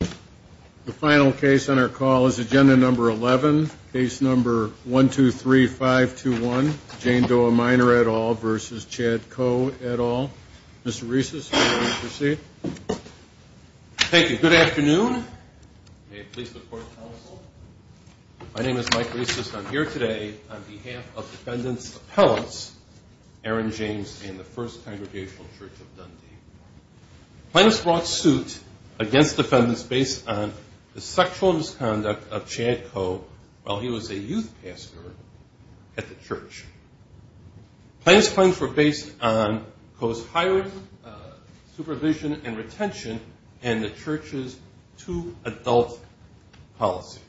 The final case on our call is agenda number 11, case number 1-2-3-5-2-1, Jane Doe a minor et al. v. Chad Coe et al. Mr. Reisses, would you please proceed? Thank you. Good afternoon. May it please the Court and the Council. My name is Mike Reisses. I'm here today on behalf of Defendants Appellants Aaron James and the First Congregational Church of Dundee. Plaintiffs brought suit against defendants based on the sexual misconduct of Chad Coe while he was a youth pastor at the church. Plaintiffs' claims were based on Coe's hired supervision and retention and the church's too-adult policy.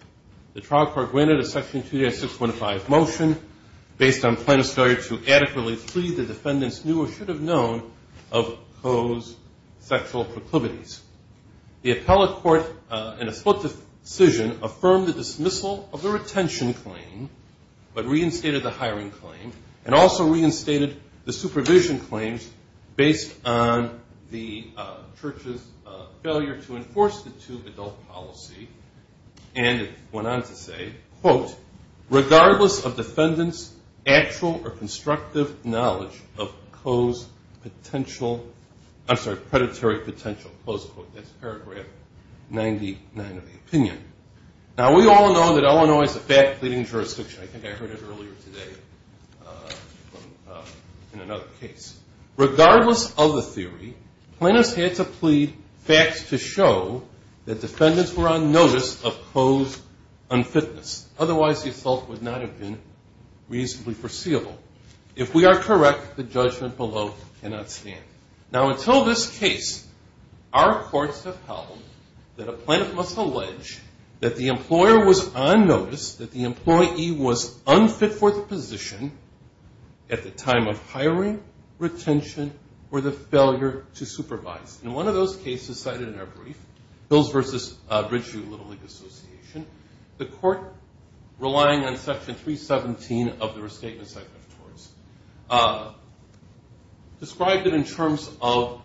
The trial court granted a Section 296.5 motion based on plaintiffs' failure to adequately plead the defendants knew or should have known of Coe's sexual proclivities. The appellate court in a split decision affirmed the dismissal of the retention claim but reinstated the hiring claim and also reinstated the supervision claims based on the church's failure to enforce the too-adult policy and went on to say, quote, regardless of defendant's actual or constructive knowledge of Coe's potential, I'm sorry, predatory potential, close quote. That's paragraph 99 of the opinion. Now we all know that Illinois is a fat pleading jurisdiction. I think I heard it earlier today in another case. Regardless of the theory, plaintiffs had to plead facts to show that defendants were on notice of Coe's unfitness. Otherwise the assault would not have been reasonably foreseeable. If we are correct, the judgment below cannot stand. Now until this case, our courts have held that a plaintiff must allege that the employer was on notice, that the employee was unfit for the position at the time of hiring, retention, or the failure to supervise. In one of those cases cited in our brief, Hills v. Ridgeview Little League Association, the court, relying on section 317 of the restatement section of TORS, described it in terms of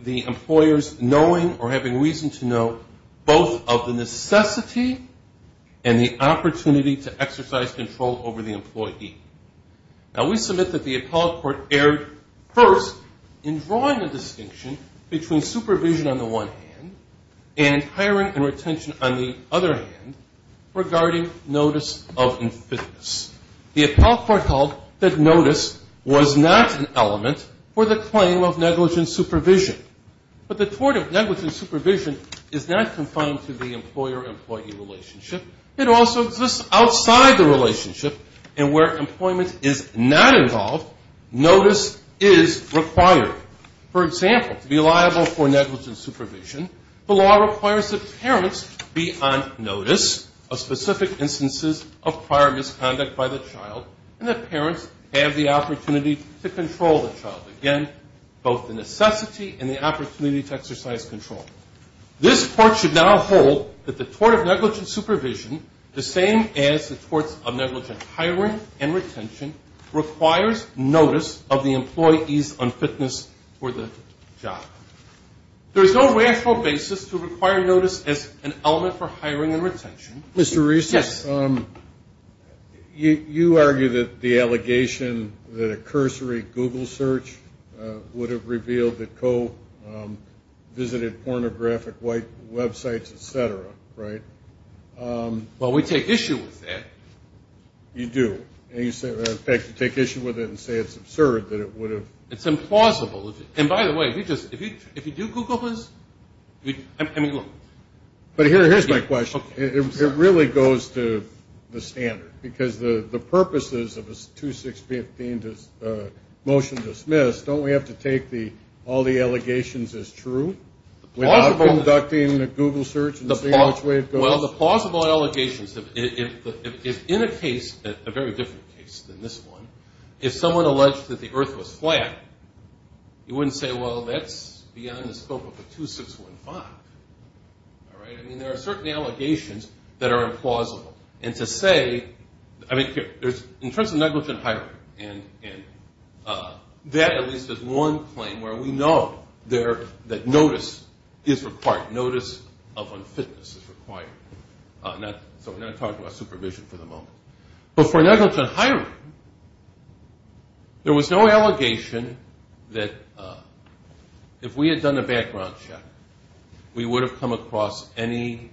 the employer's knowing or having reason to know both of the necessity and the opportunity to exercise control over the employee. Now we submit that the appellate court erred first in drawing a distinction between supervision on the one hand and hiring and retention on the other hand regarding notice of unfitness. The appellate court recalled that notice was not an element for the claim of negligent supervision. But the tort of negligent supervision is not confined to the employer-employee relationship. It also exists outside the relationship. And where employment is not involved, notice is required. For example, to be liable for negligent supervision, the law requires that parents be on notice of specific instances of prior misconduct by the child and that parents have the opportunity to control the child. Again, both the necessity and the opportunity to exercise control. This court should now hold that the tort of negligent supervision, the same as the torts of negligent hiring and retention, requires notice of the employee's unfitness for the job. There is no rational basis to require notice as an element for hiring and retention. Mr. Reese, you argue that the allegation that a cursory Google search would have revealed that co-visited pornographic websites, et cetera, right? Well, we take issue with that. You do. In fact, you take issue with it and say it's absurd that it would have. It's implausible. And by the way, if you do Google this, I mean, look. But here's my question. It really goes to the standard because the purposes of a 2-6-15 motion dismissed, don't we have to take all the allegations as true? Without conducting a Google search and seeing which way it goes? Well, the plausible allegations, if in a case, a very different case than this one, if someone alleged that the earth was flat, you wouldn't say, well, that's beyond the scope of a 2-6-15. All right? I mean, there are certain allegations that are implausible. And to say, I mean, in terms of negligent hiring, and that at least is one claim where we know that notice is required. Notice of unfitness is required. So we're not going to talk about supervision for the moment. But for negligent hiring, there was no allegation that if we had done a background check, we would have come across anything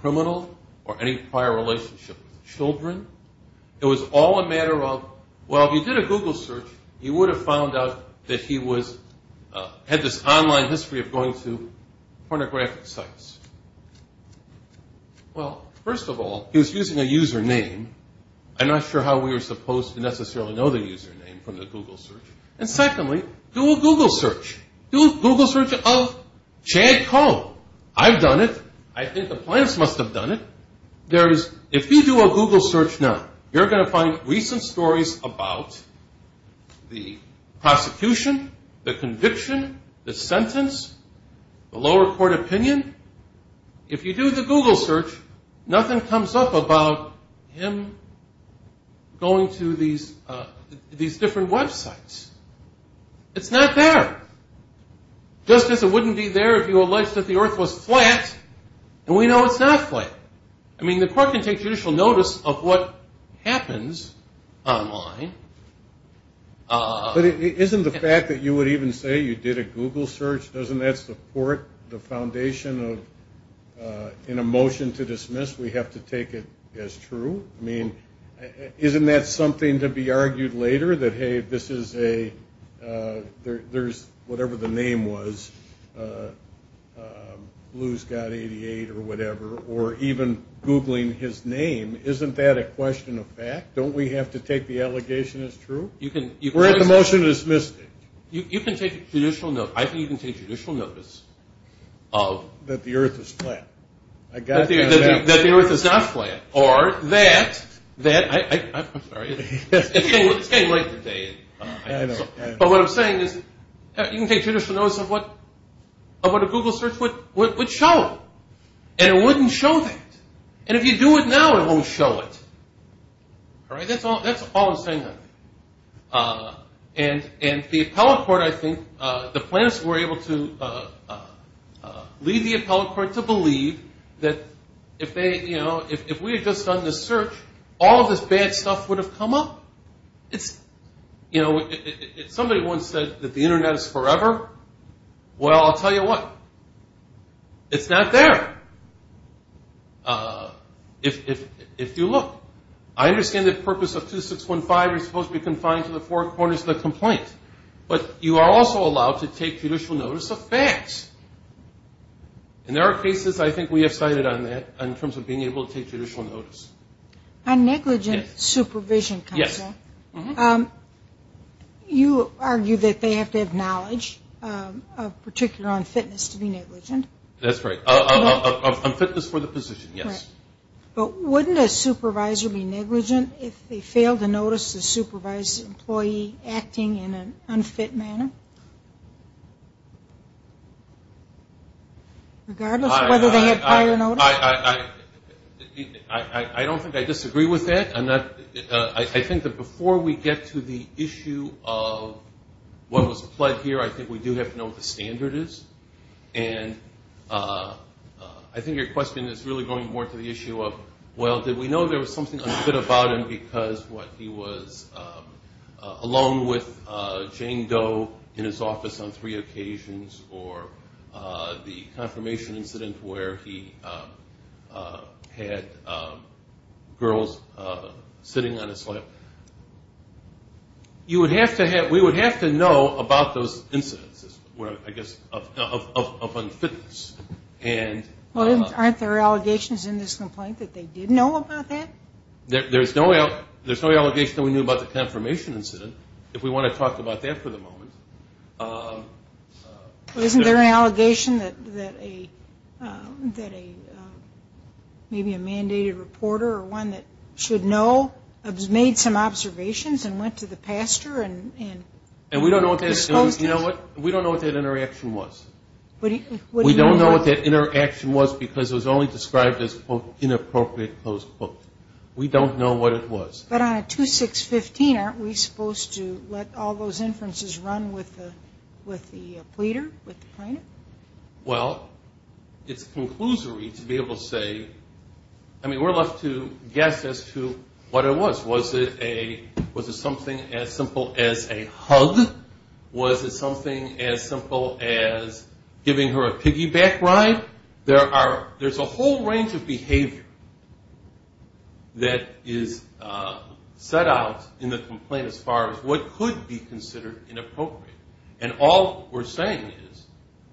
criminal or any prior relationship with children. It was all a matter of, well, if you did a Google search, you would have found out that he had this online history of going to pornographic sites. Well, first of all, he was using a username. I'm not sure how we were supposed to necessarily know the username from the Google search. And secondly, do a Google search. Do a Google search of Chad Cohn. I've done it. I think the plants must have done it. If you do a Google search now, you're going to find recent stories about the prosecution, the conviction, the sentence, the lower court opinion. If you do the Google search, nothing comes up about him going to these different websites. It's not there. Just as it wouldn't be there if you alleged that the earth was flat, and we know it's not flat. I mean, the court can take judicial notice of what happens online. But isn't the fact that you would even say you did a Google search, doesn't that support the foundation of in a motion to dismiss, we have to take it as true? I mean, isn't that something to be argued later that, hey, this is a, there's, whatever the name was, Blue's Got 88 or whatever, or even Googling his name, isn't that a question of fact? Don't we have to take the allegation as true? We're at the motion to dismiss. You can take judicial notice. I think you can take judicial notice. That the earth is flat. That the earth is not flat. Or that, I'm sorry, it's getting late today. But what I'm saying is you can take judicial notice of what a Google search would show, and it wouldn't show that. And if you do it now, it won't show it. All right? That's all I'm saying. And the appellate court, I think, the plaintiffs were able to lead the appellate court to believe that if they, you know, if we had just done this search, all of this bad stuff would have come up. It's, you know, if somebody once said that the Internet is forever, well, I'll tell you what. It's not there. If you look, I understand the purpose of 2615, you're supposed to be confined to the four corners of the complaint. But you are also allowed to take judicial notice of facts. And there are cases, I think, we have cited on that, in terms of being able to take judicial notice. On negligent supervision counsel, you argue that they have to have knowledge, particularly on fitness, to be negligent. That's right. On fitness for the position, yes. But wouldn't a supervisor be negligent if they failed to notice the supervised employee acting in an unfit manner? Regardless of whether they had prior notice? I don't think I disagree with that. I'm not – I think that before we get to the issue of what was pled here, I think we do have to know what the standard is. And I think your question is really going more to the issue of, well, did we know there was something unfit about him because he was alone with Jane Doe in his office on three occasions, or the confirmation incident where he had girls sitting on his lap. You would have to have – we would have to know about those incidences, I guess, of unfitness. Well, aren't there allegations in this complaint that they did know about that? There's no allegation that we knew about the confirmation incident, if we want to talk about that for the moment. Well, isn't there an allegation that maybe a mandated reporter or one that should know made some observations and went to the pastor and was supposed to? And we don't know what that – you know what? We don't know what that interaction was. We don't know what that interaction was because it was only described as, quote, inappropriate, close quote. We don't know what it was. But on a 2615, aren't we supposed to let all those inferences run with the pleader, with the plaintiff? Well, it's a conclusory to be able to say – I mean, we're left to guess as to what it was. Was it something as simple as a hug? Was it something as simple as giving her a piggyback ride? There's a whole range of behavior that is set out in the complaint as far as what could be considered inappropriate. And all we're saying is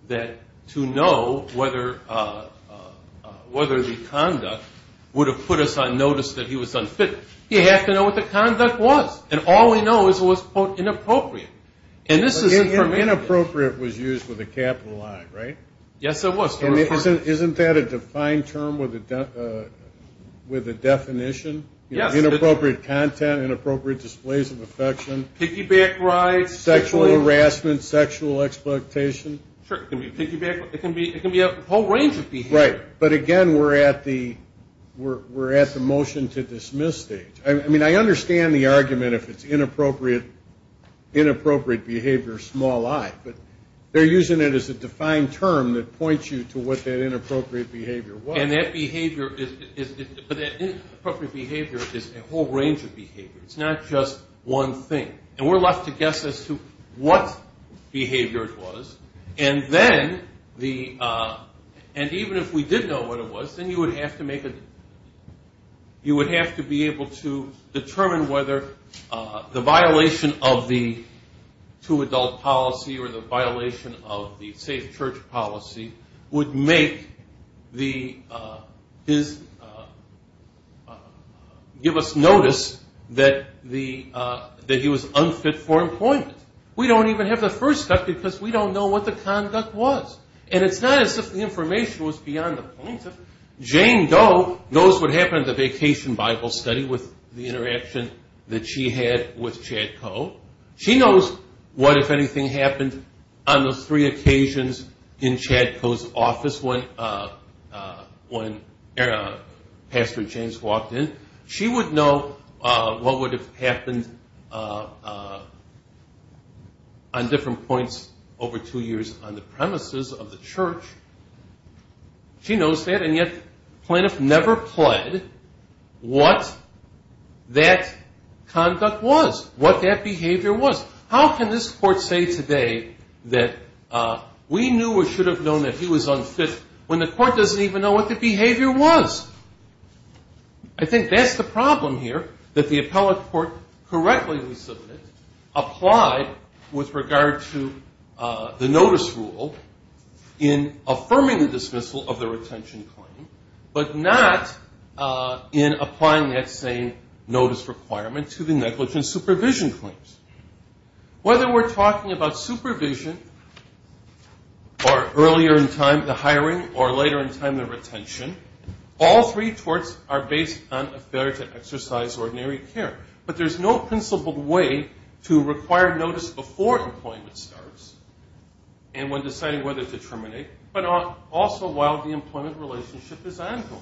that to know whether the conduct would have put us on notice that he was unfit, you have to know what the conduct was. And all we know is it was, quote, inappropriate. And this is – Inappropriate was used with a capital I, right? Yes, it was. And isn't that a defined term with a definition? Yes. Inappropriate content, inappropriate displays of affection. Piggyback rides. Sexual harassment, sexual exploitation. Sure, it can be piggyback. It can be a whole range of behavior. Right, but again, we're at the motion to dismiss stage. I mean, I understand the argument if it's inappropriate behavior, small I. But they're using it as a defined term that points you to what that inappropriate behavior was. And that behavior is – but that inappropriate behavior is a whole range of behavior. It's not just one thing. And we're left to guess as to what behavior it was. And then the – and even if we did know what it was, then you would have to make a – you would have to be able to determine whether the violation of the two-adult policy or the violation of the safe church policy would make the – give us notice that the – that he was unfit for employment. We don't even have the first step because we don't know what the conduct was. And it's not as if the information was beyond the point of – Jane Doe knows what happened at the vacation Bible study with the interaction that she had with Chad Coe. She knows what, if anything, happened on those three occasions in Chad Coe's office when Pastor James walked in. She would know what would have happened on different points over two years on the premises of the church. She knows that. And yet Plaintiff never pled what that conduct was, what that behavior was. How can this court say today that we knew or should have known that he was unfit when the court doesn't even know what the behavior was? I think that's the problem here, that the appellate court correctly, we submit, applied with regard to the notice rule in affirming the dismissal of the retention claim but not in applying that same notice requirement to the negligence supervision claims. Whether we're talking about supervision or earlier in time, the hiring, or later in time, the retention, all three torts are based on a failure to exercise ordinary care. But there's no principled way to require notice before employment starts and when deciding whether to terminate but also while the employment relationship is ongoing.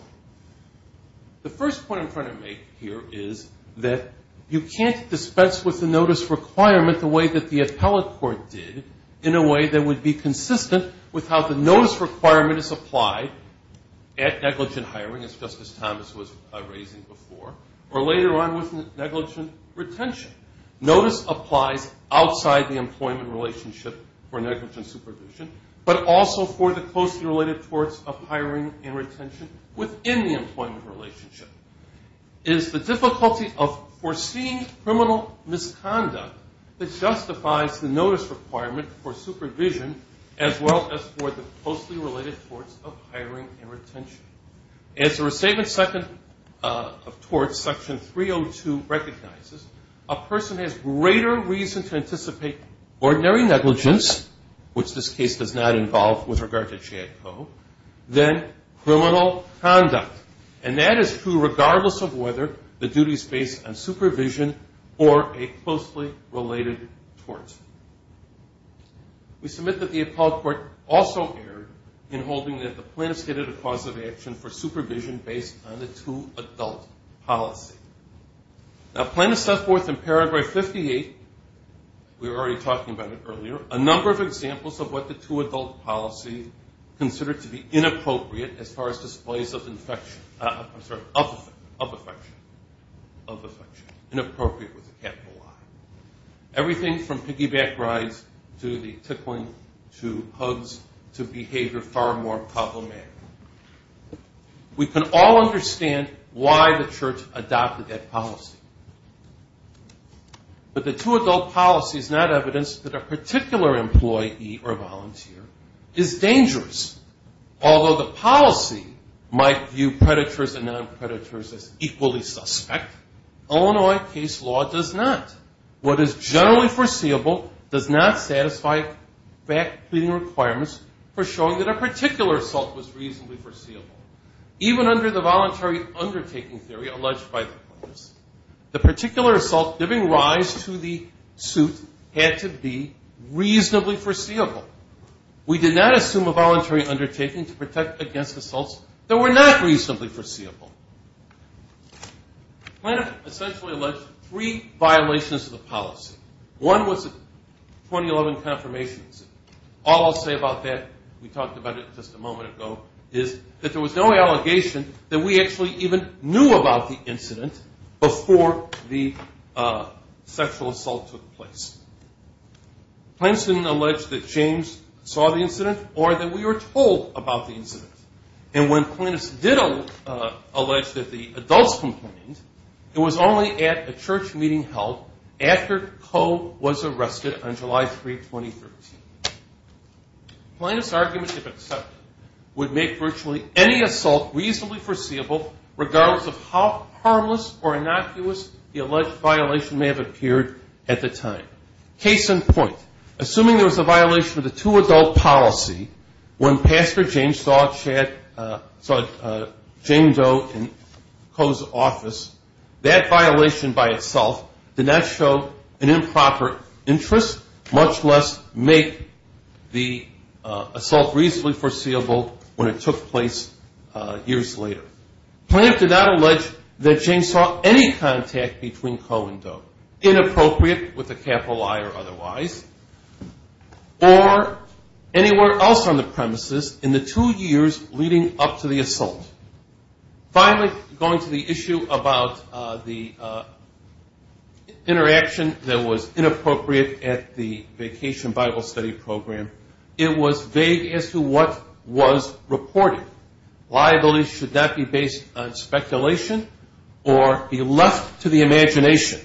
The first point I'm trying to make here is that you can't dispense with the notice requirement the way that the appellate court did in a way that would be consistent with how the notice requirement is applied at negligent hiring, as Justice Thomas was raising before, or later on with negligent retention. Notice applies outside the employment relationship for negligent supervision but also for the closely related torts of hiring and retention within the employment relationship. It is the difficulty of foreseeing criminal misconduct that justifies the notice requirement for supervision as well as for the closely related torts of hiring and retention. As the Restatement Second of Torts, Section 302 recognizes, a person has greater reason to anticipate ordinary negligence, which this case does not involve with regard to JADCO, than criminal conduct, and that is true regardless of whether the duty is based on supervision or a closely related tort. We submit that the appellate court also erred in holding that the plaintiff stated a cause of action for supervision based on the two-adult policy. Now plaintiff set forth in paragraph 58, we were already talking about it earlier, a number of examples of what the two-adult policy considered to be inappropriate as far as displays of affection. I'm sorry, of affection, of affection, inappropriate with a capital I. Everything from piggyback rides to the tickling to hugs to behavior far more problematic. We can all understand why the church adopted that policy. But the two-adult policy is not evidence that a particular employee or volunteer is dangerous. Although the policy might view predators and non-predators as equally suspect, Illinois case law does not. What is generally foreseeable does not satisfy fact-clearing requirements for showing that a particular assault was reasonably foreseeable. Even under the voluntary undertaking theory alleged by the courts, the particular assault giving rise to the suit had to be reasonably foreseeable. We did not assume a voluntary undertaking to protect against assaults that were not reasonably foreseeable. Plaintiff essentially alleged three violations of the policy. One was 2011 confirmations. All I'll say about that, we talked about it just a moment ago, is that there was no allegation that we actually even knew about the incident before the sexual assault took place. Plaintiff didn't allege that James saw the incident or that we were told about the incident. And when plaintiffs did allege that the adults complained, it was only at a church meeting held after Coe was arrested on July 3, 2013. Plaintiff's argument, if accepted, would make virtually any assault reasonably foreseeable regardless of how harmless or innocuous the alleged violation may have appeared at the time. Case in point, assuming there was a violation of the two-adult policy when Pastor James saw James Doe in Coe's office, that violation by itself did not show an improper interest, much less make the assault reasonably foreseeable when it took place years later. Plaintiff did not allege that James saw any contact between Coe and Doe, inappropriate with a capital I or otherwise, or anywhere else on the premises in the two years leading up to the assault. Finally, going to the issue about the interaction that was inappropriate at the Vacation Bible Study Program, it was vague as to what was reported. Liabilities should not be based on speculation or be left to the imagination.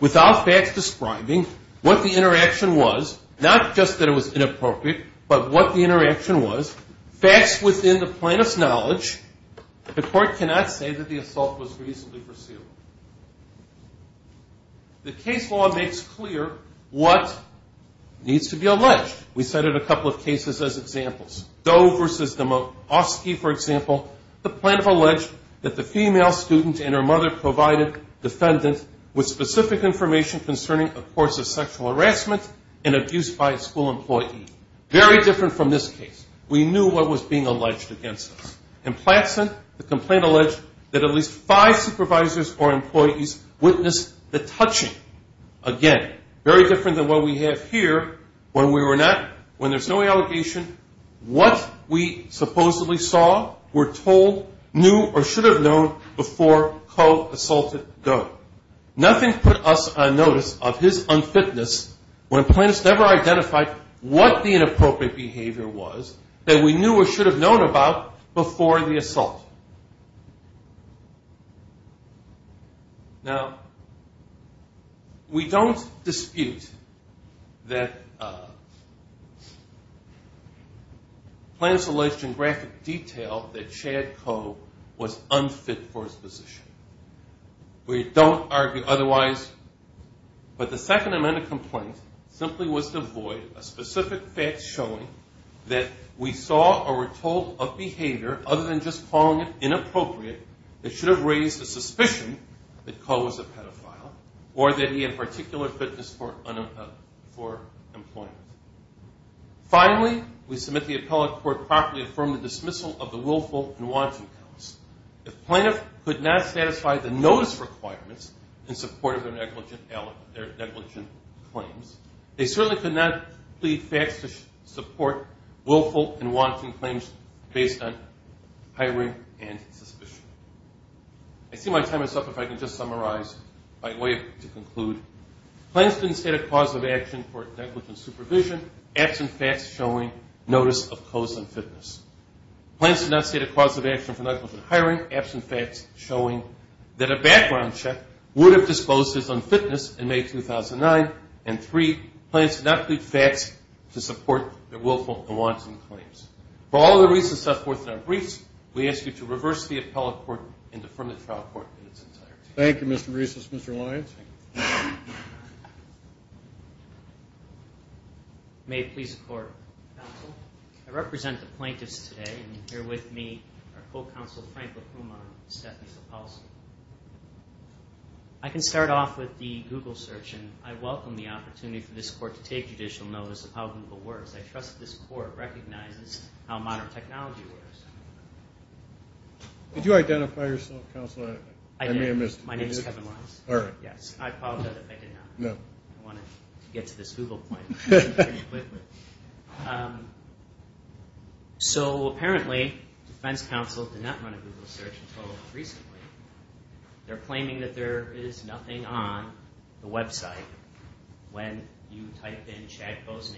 Without facts describing what the interaction was, not just that it was inappropriate, but what the interaction was, facts within the plaintiff's knowledge, the court cannot say that the assault was reasonably foreseeable. The case law makes clear what needs to be alleged. We cited a couple of cases as examples. Doe v. Demofsky, for example, the plaintiff alleged that the female student and her mother provided defendants with specific information concerning a course of sexual harassment and abuse by a school employee. Very different from this case. We knew what was being alleged against us. The plaintiff and her employees witnessed the touching. Again, very different than what we have here. When there's no allegation, what we supposedly saw, were told, knew, or should have known before Coe assaulted Doe. Nothing put us on notice of his unfitness when plaintiffs never identified what the inappropriate behavior was that we knew or should have known about before the assault. Now, we don't dispute that plaintiffs alleged in graphic detail that Chad Coe was unfit for his position. We don't argue otherwise, but the second amendment complaint simply was to avoid a specific fact showing that we saw or were told of behavior other than just calling it inappropriate that should have raised the suspicion that Coe was a pedophile or that he had particular fitness for employment. Finally, we submit the appellate court properly affirmed the dismissal of the willful and wanting counts. If plaintiff could not satisfy the notice requirements in support of their negligent claims, they certainly could not plead facts to support willful and wanting claims based on hiring and suspicion. I see my time is up if I can just summarize my way to conclude. Plaintiffs didn't state a cause of action for negligent supervision. Absent facts showing notice of Coe's unfitness. Plaintiffs did not state a cause of action for negligent hiring. Absent facts showing that a background check would have disclosed his unfitness in May 2009 and three, plaintiffs did not plead facts to support their willful and wanting claims. For all the reasons set forth in our briefs, we ask you to reverse the appellate court and affirm the trial court in its entirety. Thank you, Mr. Bresos. Mr. Lyons. May it please the Court. Counsel, I represent the plaintiffs today and here with me are Co-Counsel Frank LaPuma and Stephanie Sapolsky. I can start off with the Google search and I welcome the opportunity for this court to take judicial notice of how Google works. I trust this court recognizes how modern technology works. Did you identify yourself, Counsel? I did. My name is Kevin Lyons. I apologize if I did not. I wanted to get to this Google point pretty quickly. So apparently Defense Counsel did not run a Google search until recently. They're claiming that there is nothing on the website when you type in Chad Boznan.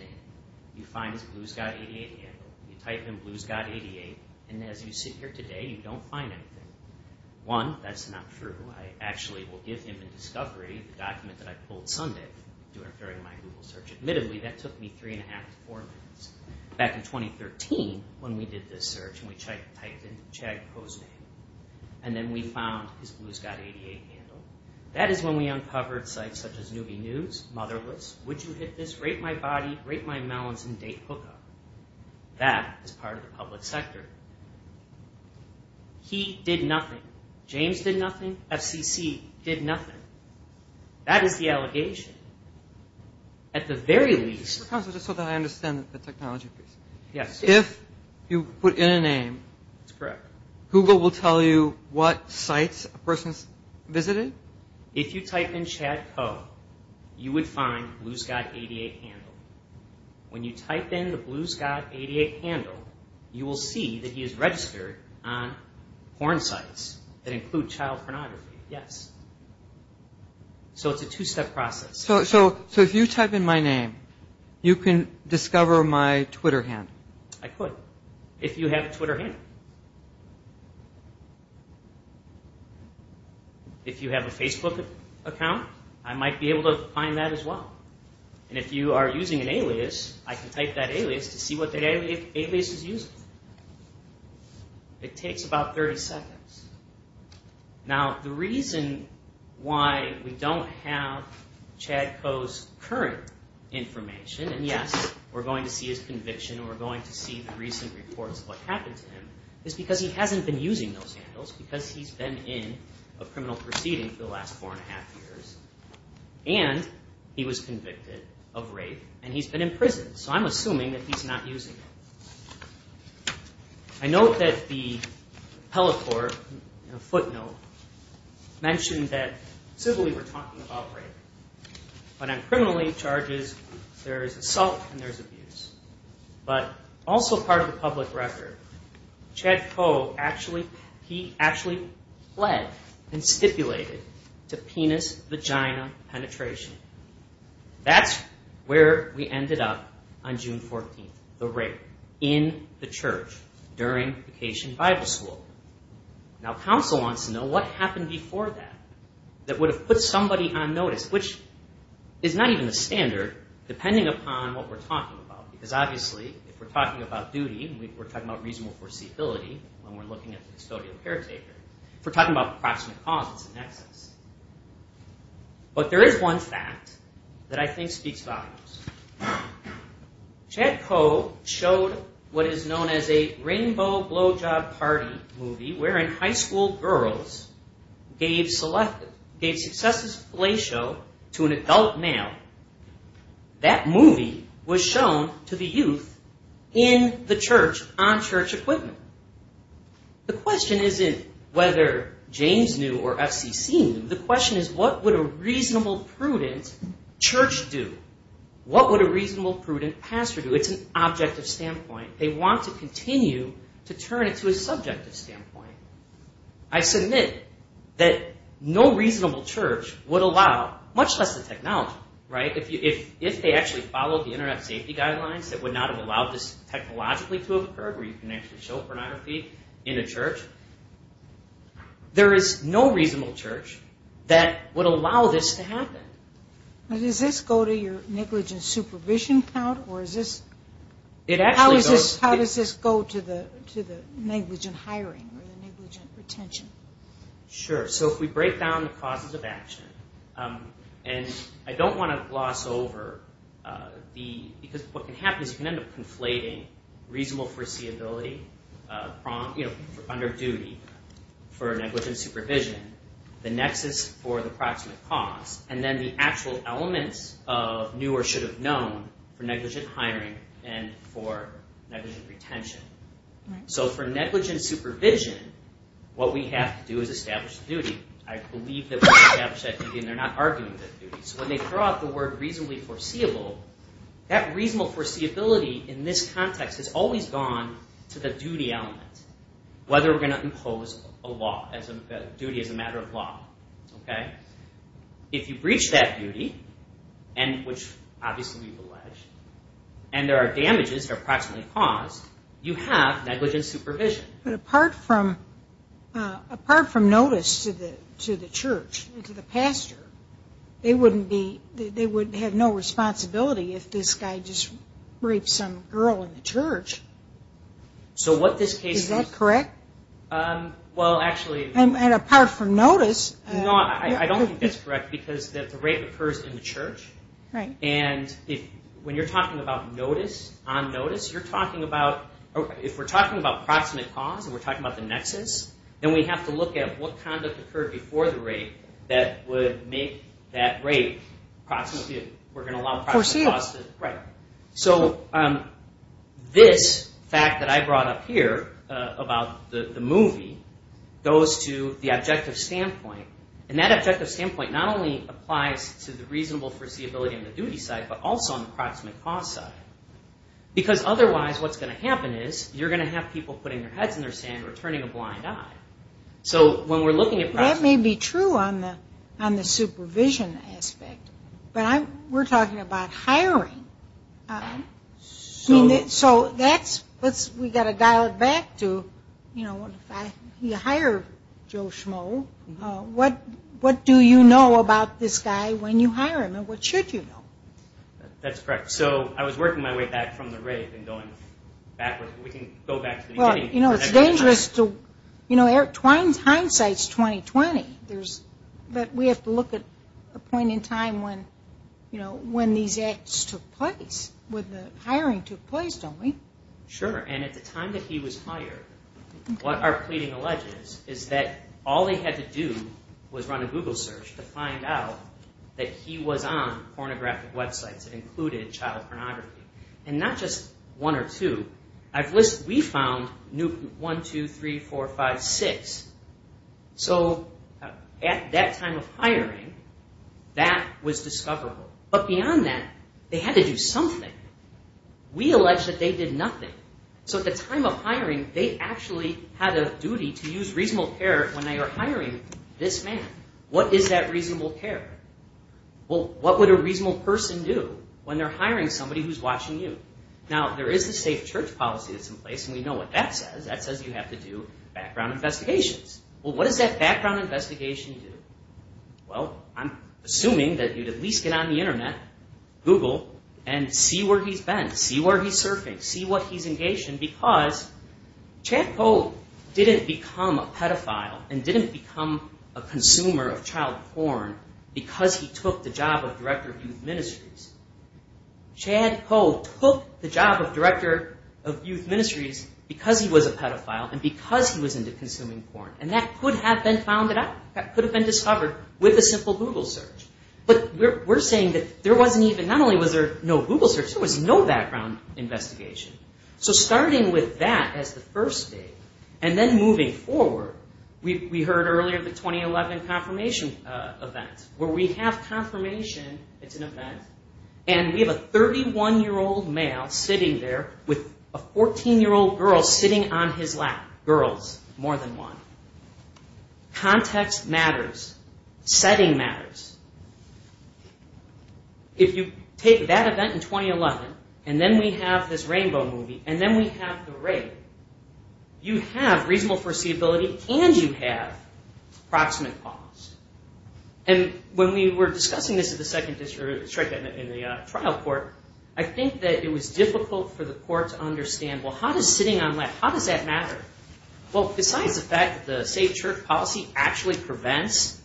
You find his Blue Scott 88 handle. You type in Blue Scott 88 and as you sit here today, you don't find anything. One, that's not true. I actually will give him in discovery the document that I pulled Sunday during my Google search. Admittedly, that took me three and a half to four minutes. Back in 2013, when we did this search and we typed in Chad Boznan and then we found his Blue Scott 88 handle, that is when we uncovered sites such as Newby News, Motherless, Would You Hit This, Rape My Body, Rape My Melons, and Date Hookup. That is part of the public sector. He did nothing. James did nothing. FCC did nothing. That is the allegation. At the very least... If you put in a name, Google will tell you what sites a person has visited? If you type in Chad Co, you would find Blue Scott 88 handle. When you type in the Blue Scott 88 handle, you will see that he is registered on porn sites that include child pornography. It is a two-step process. If you type in my name, you can discover my Twitter handle? I could, if you have a Twitter handle. If you have a Facebook account, I might be able to find that as well. If you are using an alias, I can type that alias to see what that alias is using. It takes about 30 seconds. The reason why we don't have Chad Co's current information, and yes, we are going to see his conviction, we are going to see the recent reports of what happened to him, is because he hasn't been using those handles, because he's been in a criminal proceeding for the last four and a half years, and he was convicted of rape, and he's been in prison, so I'm assuming that he's not using it. I note that the Pelot Court footnote mentioned that civilly we're talking about rape. When I'm criminally charged, there's assault and there's abuse. But also part of the public record, Chad Co, he actually pled and stipulated to penis-vagina penetration. That's where we ended up on June 14th, the rape, in the church, during vacation Bible school. Now, counsel wants to know what happened before that, that would have put somebody on notice, which is not even the standard, depending upon what we're talking about, because obviously if we're talking about duty, we're talking about reasonable foreseeability when we're looking at the custodial caretaker. If we're talking about approximate cause, it's an excess. But there is one fact that I think speaks volumes. Chad Co showed what is known as a rainbow blowjob party movie, wherein high school girls gave successes to a play show to an adult male. That movie was shown to the youth in the church on church equipment. The question isn't whether James knew or FCC knew. The question is what would a reasonable, prudent church do? What would a reasonable, prudent pastor do? It's an objective standpoint. They want to continue to turn it to a subjective standpoint. I submit that no reasonable church would allow, much less the technology, if they actually followed the internet safety guidelines that would not have allowed this technologically to have occurred, where you can actually show pornography in a church, there is no reasonable church that would allow this to happen. Does this go to your negligent supervision count? How does this go to the negligent hiring or the negligent retention? If we break down the causes of action, I don't want to gloss over. What can happen is you can end up conflating reasonable foreseeability under duty for negligent supervision, the nexus for the approximate cause, and then the actual elements of new or should have known for negligent hiring and for negligent retention. For negligent supervision, what we have to do is establish the duty. I believe that we establish that duty, and they're not arguing that duty. When they throw out the word reasonably foreseeable, that reasonable foreseeability in this context has always gone to the duty element, whether we're going to impose a duty as a matter of law. If you breach that duty, which obviously we've alleged, and there are damages that are approximately caused, you have negligent supervision. But apart from notice to the church and to the pastor, they would have no responsibility if this guy just raped some girl in the church. Is that correct? I don't think that's correct because the rape occurs in the church. When you're talking about notice, on notice, if we're talking about approximate cause and we're talking about the nexus, then we have to look at what kind of occurred before the rape that would make that rape approximate. So this fact that I brought up here about the movie goes to the objective standpoint. And that objective standpoint not only applies to the reasonable foreseeability on the duty side, but also on the approximate cause side. Because otherwise what's going to happen is you're going to have people putting their heads in the sand or turning a blind eye. That may be true on the supervision aspect, but we're talking about hiring. So we've got to dial it back to if you hire Joe Schmoe, what do you know about this guy when you hire him and what should you know? That's correct. So I was working my way back from the rape and going backwards. It's dangerous. Hindsight's 20-20. But we have to look at a point in time when these acts took place, when the hiring took place, don't we? Sure. And at the time that he was hired, what our pleading alleges is that all they had to do was run a Google search to find out that he was on that list. We found 1, 2, 3, 4, 5, 6. So at that time of hiring, that was discoverable. But beyond that, they had to do something. We allege that they did nothing. So at the time of hiring, they actually had a duty to use reasonable care when they were hiring this man. What is that reasonable care? Well, what would a reasonable person do when they're hiring somebody who's watching you? Now, there is a safe church policy that's in place, and we know what that says. That says you have to do background investigations. Well, what does that background investigation do? Well, I'm assuming that you'd at least get on the Internet, Google, and see where he's been, see where he's surfing, see what he's engaged in, because Chad Coe didn't become a pedophile and didn't become a consumer of child porn because he took the job of director of youth ministries. Chad Coe took the job of director of youth ministries because he was a pedophile and because he was into consuming porn. And that could have been found out. That could have been discovered with a simple Google search. But we're saying that there wasn't even, not only was there no Google search, there was no background investigation. So starting with that as the first thing, and then moving forward, we heard earlier the 2011 confirmation event, where we have confirmation it's an event, and we have a 31-year-old male sitting there with a 14-year-old girl sitting on his lap, girls, more than one. Context matters. Setting matters. If you take that event in 2011, and then we have this Rainbow movie, and then we have the rape, you have reasonable foreseeability and you have proximate cause. And when we were discussing this at the second district, in the trial court, I think that it was difficult for the court to understand, well, how does sitting on lap, how does that matter? Well, besides the fact that the Safe Church policy actually prevents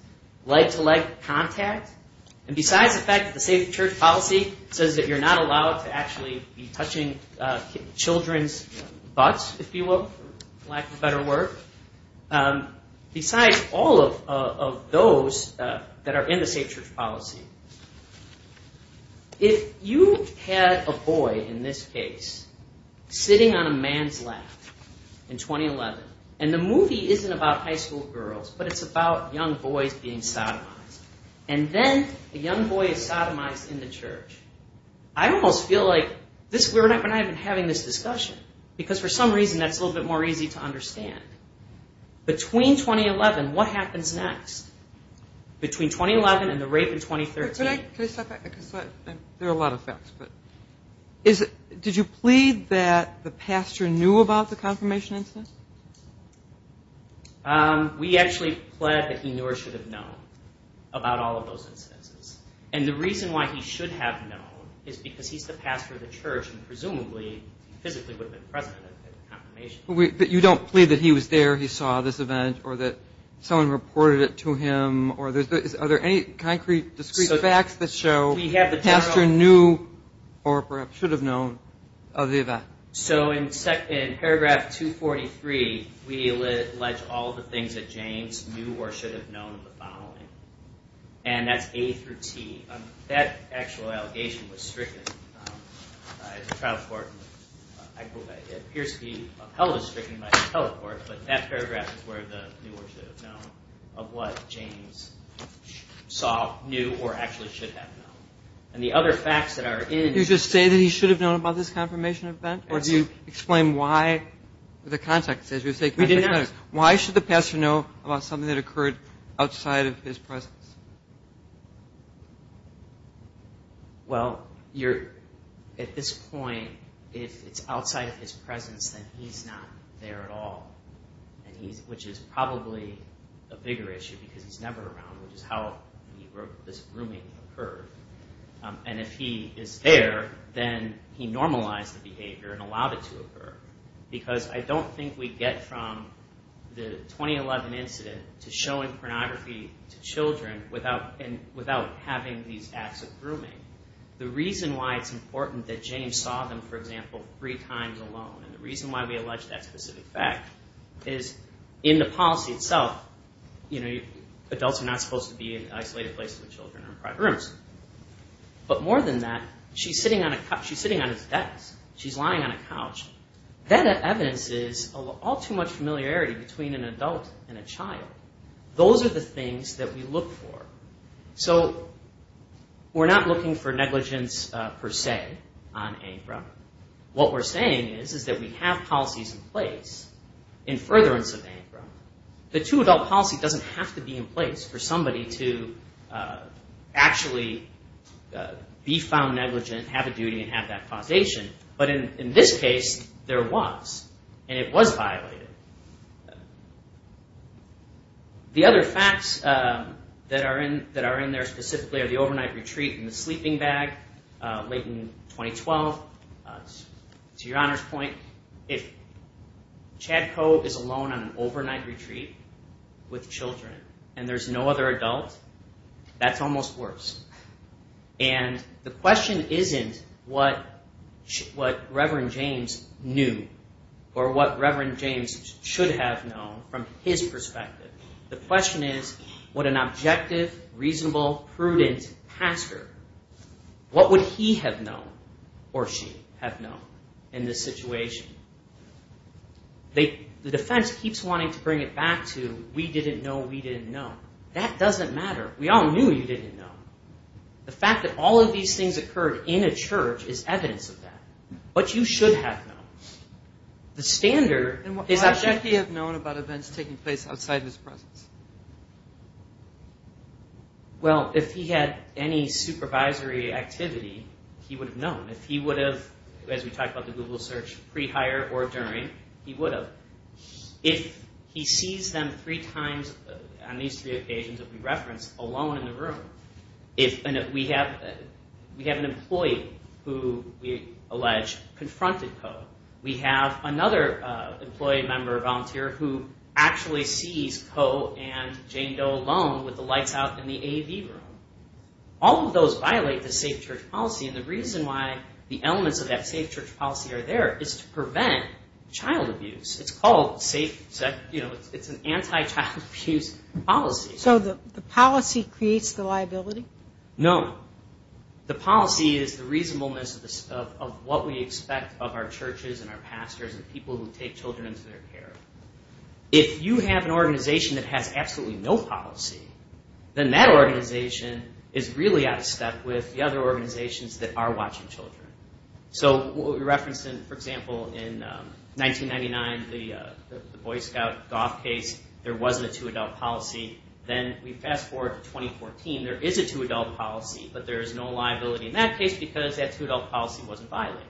leg-to-leg contact, and besides the fact that the Safe Church policy says that you're not allowed to actually be touching children's butts, if you will, for lack of better word, besides all of those that are in the Safe Church policy, if you had a boy, in this case, sitting on a man's lap in 2011, and the movie isn't about high school girls, but it's about young boys being sodomized. And then a young boy is sodomized in the church. I almost feel like we're not even having this discussion, because for some reason that's a little bit more easy to understand. Between 2011, what happens next? Between 2011 and the rape in 2013? There are a lot of facts, but did you plead that the pastor knew about the confirmation incident? We actually pled that he knew or should have known about all of those incidents. And the reason why he should have known is because he's the pastor of the church, and presumably, he physically would have been present at the confirmation. But you don't plead that he was there, he saw this event, or that someone reported it to him, or are there any concrete, discrete facts that show the pastor knew, or perhaps should have known, of the event? So in paragraph 243, we allege all of the things that James knew or should have known of the following, and that's A through T. That actual allegation was stricken by the trial court. It appears to be upheld as stricken by the trial court, but that paragraph is where the knew or should have known of what James saw, knew, or actually should have known. Do you just say that he should have known about this confirmation event, or do you explain why? Why should the pastor know about something that occurred outside of his presence? Well, at this point, if it's outside of his presence, then he's not there at all, which is probably a bigger issue, because he's never around, which is how this grooming occurred. And if he is there, then he normalized the behavior and allowed it to occur. Because I don't think we get from the 2011 incident to showing pornography to children without having these acts of grooming. The reason why it's important that James saw them, for example, three times alone, and the reason why we allege that specific fact, is in the policy itself, adults are not supposed to be in isolated places with children or in private rooms. But more than that, she's sitting on his desk, she's lying on a couch. That evidence is all too much familiarity between an adult and a child. Those are the things that we look for. So we're not looking for negligence, per se, on ANCRA. What we're saying is that we have policies in place in furtherance of ANCRA. The two-adult policy doesn't have to be in place for somebody to actually be found negligent, have a duty, and have that causation. But in this case, there was, and it was violated. The other facts that are in there specifically are the overnight retreat and the sleeping bag, late in 2012. To Your Honor's point, if Chad Cove is alone on an overnight retreat with children and there's no other adult, that's almost worse. And the question isn't what Reverend James knew or what Reverend James should have known from his perspective. The question is, would an objective, reasonable, prudent pastor, what would he have known or she? Would he have known in this situation? The defense keeps wanting to bring it back to we didn't know, we didn't know. That doesn't matter. We all knew you didn't know. The fact that all of these things occurred in a church is evidence of that. But you should have known. Well, if he had any supervisory activity, he would have known. If he would have, as we talked about the Google search, pre-hire or during, he would have. If he sees them three times on these three occasions that we referenced alone in the room, we have an employee who we allege confronted Cove. We have another employee, member, volunteer who actually sees Cove and Jane Doe alone with the lights out in the AV room. All of those violate the safe church policy. And the reason why the elements of that safe church policy are there is to prevent child abuse. It's called safe, it's an anti-child abuse policy. So the policy creates the liability? No. The policy is the reasonableness of what we expect of our churches and our pastors and people who take children into their care. If you have an organization that has absolutely no policy, then that organization is really out of step with the other organizations that are watching children. So what we referenced in, for example, in 1999, the Boy Scout golf case, there wasn't a two-adult policy. Then we fast forward to 2014, there is a two-adult policy, but there is no liability in that case because that two-adult policy wasn't violated.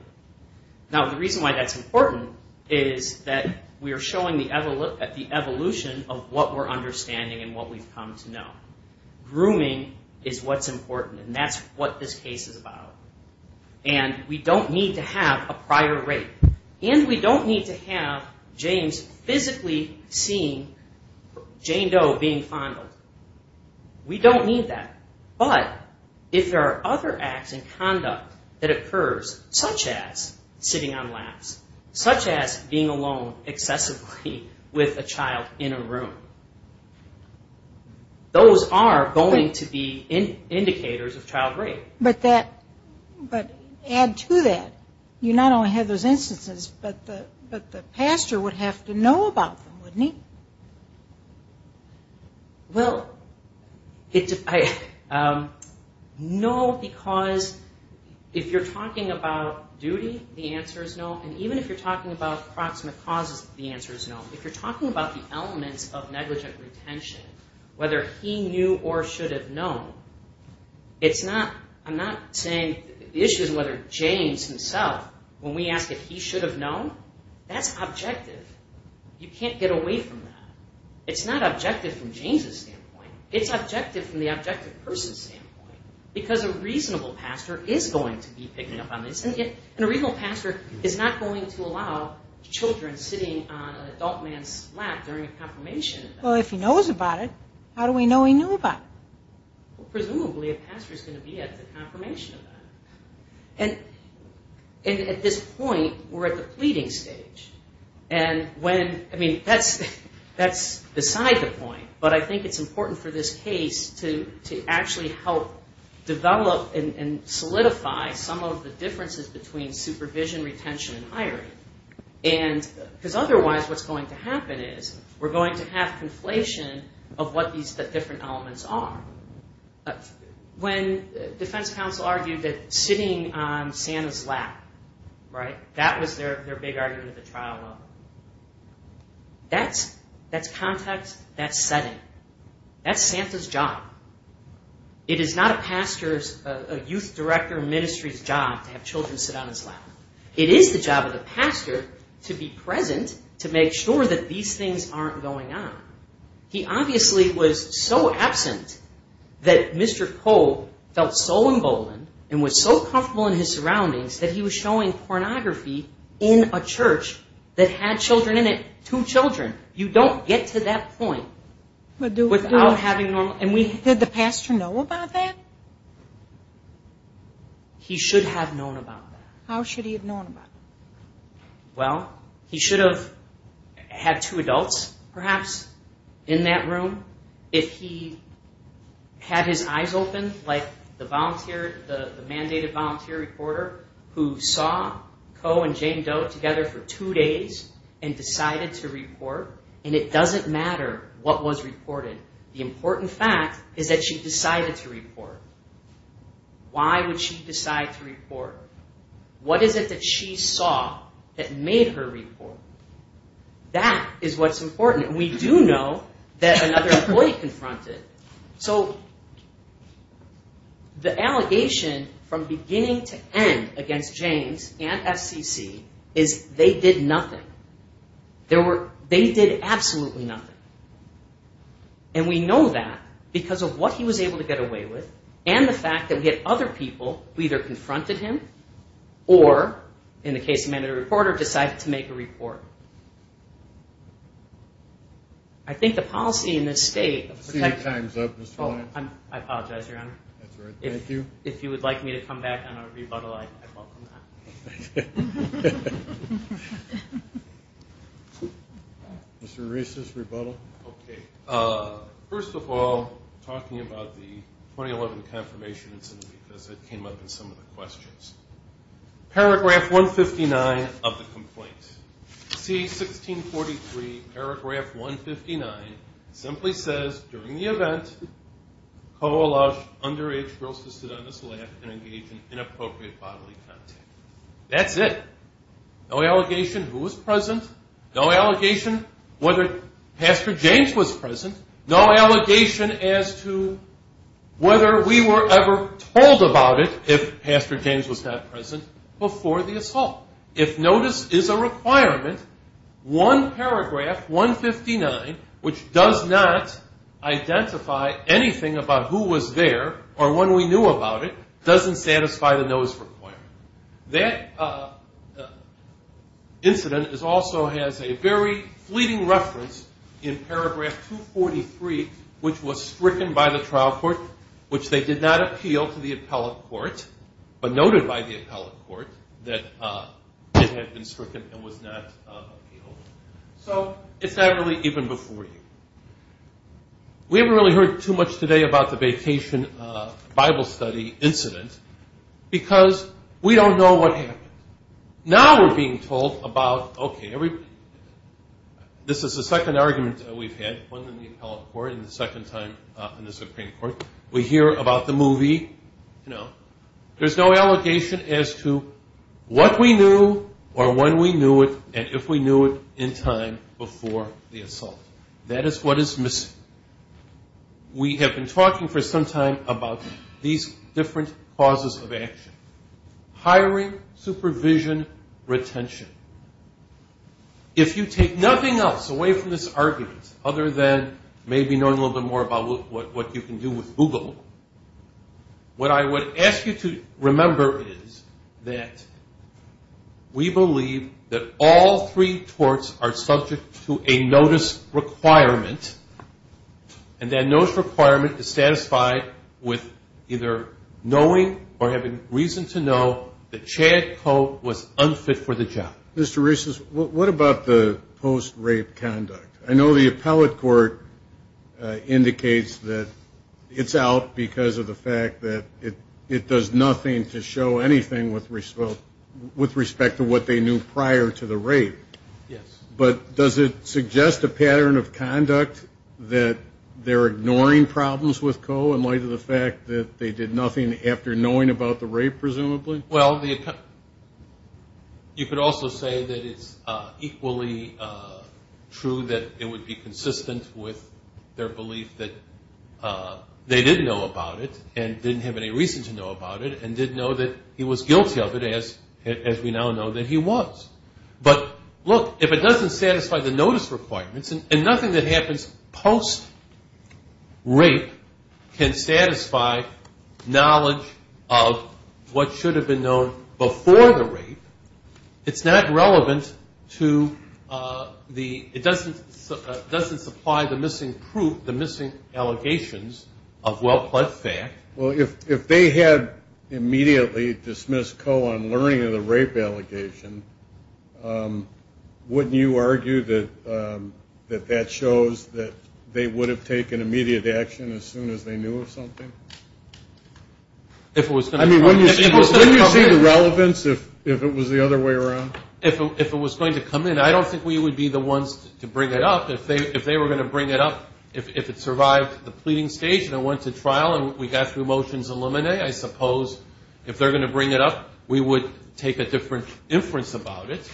Now, the reason why that's important is that we are showing the evolution of what we're understanding and what we've come to know. Grooming is what's important, and that's what this case is about. And we don't need to have a prior rape. And we don't need to have James physically seeing Jane Doe being fondled. We don't need that. But if there are other acts and conduct that occurs, such as sitting on laps, such as being alone excessively with a child in a room, those are going to be indicators of child rape. But add to that, you not only have those instances, but the pastor would have to know about them, wouldn't he? Well, no, because if you're talking about duty, the answer is no. And even if you're talking about proximate causes, the answer is no. If you're talking about the elements of negligent retention, whether he knew or should have known, I'm not saying... The issue is whether James himself, when we ask if he should have known, that's objective. You can't get away from that. It's not objective from James's standpoint. It's objective from the objective person's standpoint. Because a reasonable pastor is going to be picking up on this, and a reasonable pastor is not going to allow children sitting on an adult man's lap during a confirmation event. Well, if he knows about it, how do we know he knew about it? Well, presumably a pastor is going to be at the confirmation event. And at this point, we're at the pleading stage. That's beside the point, but I think it's important for this case to actually help develop and solidify some of the differences between supervision, retention, and hiring. Because otherwise what's going to happen is we're going to have conflation of what these different elements are. When defense counsel argued that sitting on Santa's lap, that was their big argument at the trial level. That's context. That's setting. That's Santa's job. It is not a pastor's, a youth director of ministry's job to have children sit on his lap. It is the job of the pastor to be present to make sure that these things aren't going on. He obviously was so absent that Mr. Cove felt so emboldened and was so comfortable in his surroundings that he was showing pornography in a church that had children in it. Two children. You don't get to that point without having normal... Did the pastor know about that? He should have known about that. How should he have known about that? Well, he should have had two adults, perhaps, in that room. If he had his eyes open, like the mandated volunteer reporter who saw Coe and Jane Doe together for two days and decided to report, and it doesn't matter what was reported. The important fact is that she decided to report. Why would she decide to report? What is it that she saw that made her report? That is what's important. And we do know that another employee confronted. So the allegation from beginning to end against James and FCC is they did nothing. They did absolutely nothing. And we know that because of what he was able to get away with and the fact that we had other people who either confronted him or, in the case of mandated reporter, decided to make a report. I think the policy in this state... I apologize, Your Honor. If you would like me to come back on a rebuttal, I welcome that. Mr. Reese's rebuttal. Okay. First of all, talking about the 2011 confirmation incident because it came up in some of the questions. Paragraph 159 of the complaint. That's it. No allegation who was present. No allegation whether Pastor James was present. No allegation as to whether we were ever told about it if Pastor James was not present. Before the assault. If notice is a requirement, one paragraph, 159, which does not identify anything about who was there or when we knew about it, doesn't satisfy the nose requirement. That incident also has a very fleeting reference in paragraph 243, which was stricken by the trial court, which they did not appeal to the appellate court, but noted by the appellate court. That it had been stricken and was not appealed. So it's not really even before you. We haven't really heard too much today about the vacation Bible study incident because we don't know what happened. Now we're being told about, okay, this is the second argument that we've had, one in the appellate court and the second time in the Supreme Court. We hear about the movie, you know. There's no allegation as to what we knew or when we knew it and if we knew it in time before the assault. That is what is missing. We have been talking for some time about these different causes of action. Hiring, supervision, retention. If you take nothing else away from this argument other than maybe knowing a little bit more about what you can do with it, you're not going to get anywhere. But if you go to Google, what I would ask you to remember is that we believe that all three torts are subject to a notice requirement. And that notice requirement is satisfied with either knowing or having reason to know that Chad Coe was unfit for the job. Mr. Rees, what about the post-rape conduct? I know the appellate court indicates that it's not the case that Chad Coe was unfit for the job. It points out because of the fact that it does nothing to show anything with respect to what they knew prior to the rape. But does it suggest a pattern of conduct that they're ignoring problems with Coe in light of the fact that they did nothing after knowing about the rape, presumably? Well, you could also say that it's equally true that it would be consistent with their belief that they didn't know about the rape. They did know about it and didn't have any reason to know about it and did know that he was guilty of it, as we now know that he was. But look, if it doesn't satisfy the notice requirements, and nothing that happens post-rape can satisfy knowledge of what should have been known before the rape, it's not relevant to the... Well, if they had immediately dismissed Coe on learning of the rape allegation, wouldn't you argue that that shows that they would have taken immediate action as soon as they knew of something? I mean, wouldn't you see the relevance if it was the other way around? If it was going to come in, I don't think we would be the ones to bring it up. I mean, if it was a trial and we got through motions aluminae, I suppose if they're going to bring it up, we would take a different inference about it.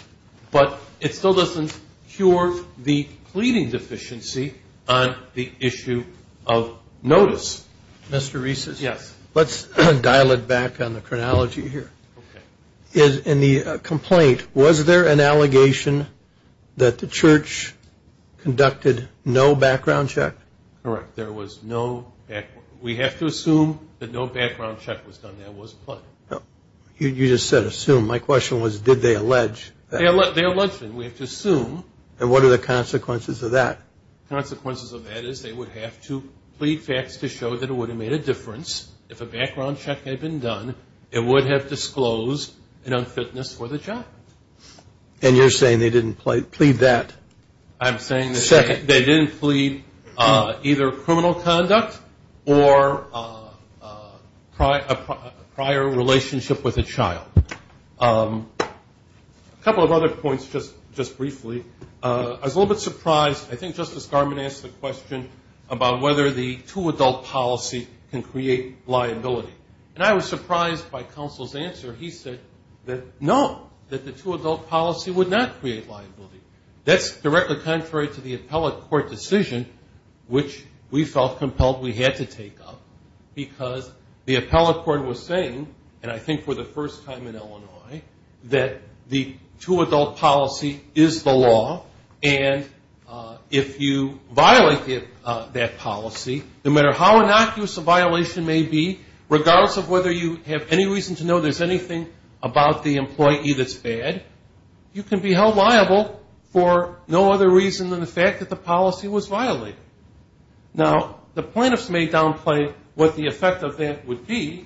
But it still doesn't cure the pleading deficiency on the issue of notice. Mr. Reeses? Yes. Let's dial it back on the chronology here. In the complaint, was there an allegation that the church conducted no background check? Correct. There was no background... We have to assume that no background check was done. You just said assume. My question was, did they allege that? They alleged it. We have to assume. And what are the consequences of that? The consequences of that is they would have to plead facts to show that it would have made a difference. If a background check had been done, it would have disclosed an unfitness for the child. And you're saying they didn't plead that? I'm saying that they didn't plead either criminal conduct or a prior relationship with a child. A couple of other points, just briefly. I was a little bit surprised. I think Justice Garmon asked the question about whether the two-adult policy can create liability. And I was surprised by counsel's answer. He said that no, that the two-adult policy would not create liability. That's directly contrary to the appellate court decision, which we felt compelled we had to take up, because the appellate court was saying, and I think for the first time in our history, in Illinois, that the two-adult policy is the law. And if you violate that policy, no matter how innocuous a violation may be, regardless of whether you have any reason to know there's anything about the employee that's bad, you can be held liable for no other reason than the fact that the policy was violated. Now, the plaintiffs may downplay what the effect of that would be,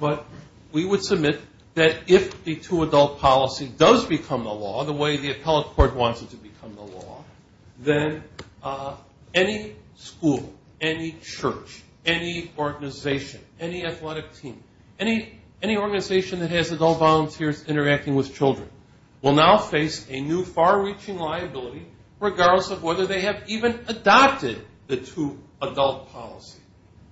but we would submit that if the two-adult policy was violated, there would be no liability. If the two-adult policy does become the law, the way the appellate court wants it to become the law, then any school, any church, any organization, any athletic team, any organization that has adult volunteers interacting with children, will now face a new far-reaching liability, regardless of whether they have even adopted the two-adult policy.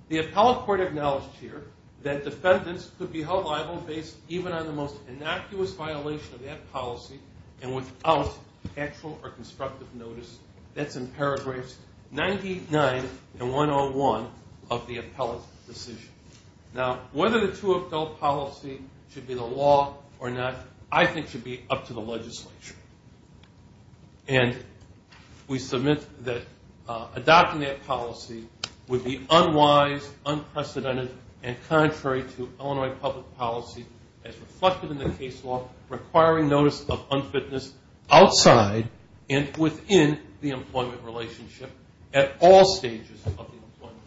The appellate court acknowledged here that defendants could be held liable based even on the most innocuous violation of that policy and without actual or constructive notice. That's in paragraphs 99 and 101 of the appellate's decision. Now, whether the two-adult policy should be the law or not, I think should be up to the legislature. And we submit that adopting that policy would be unwise, unprecedented, and contrary to Illinois public policy as reflected in the case law, requiring notice of unfitness outside and within the employment relationship at all stages of the employment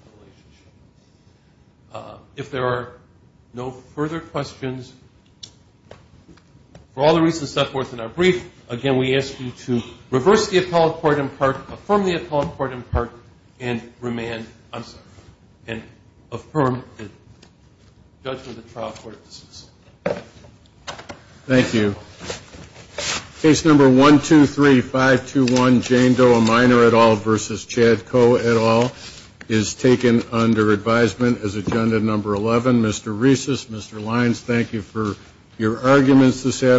relationship. If there are no further questions, for all the reasons set forth in our brief, I'm going to turn it over to you. Again, we ask you to reverse the appellate court in part, affirm the appellate court in part, and remand, I'm sorry, and affirm the judgment of the trial court. Thank you. Case number 123-521, Jane Doe, a minor at all, versus Chad Coe, at all, is taken under advisement as agenda number 11. Mr. Reeses, Mr. Lyons, thank you for your arguments this afternoon.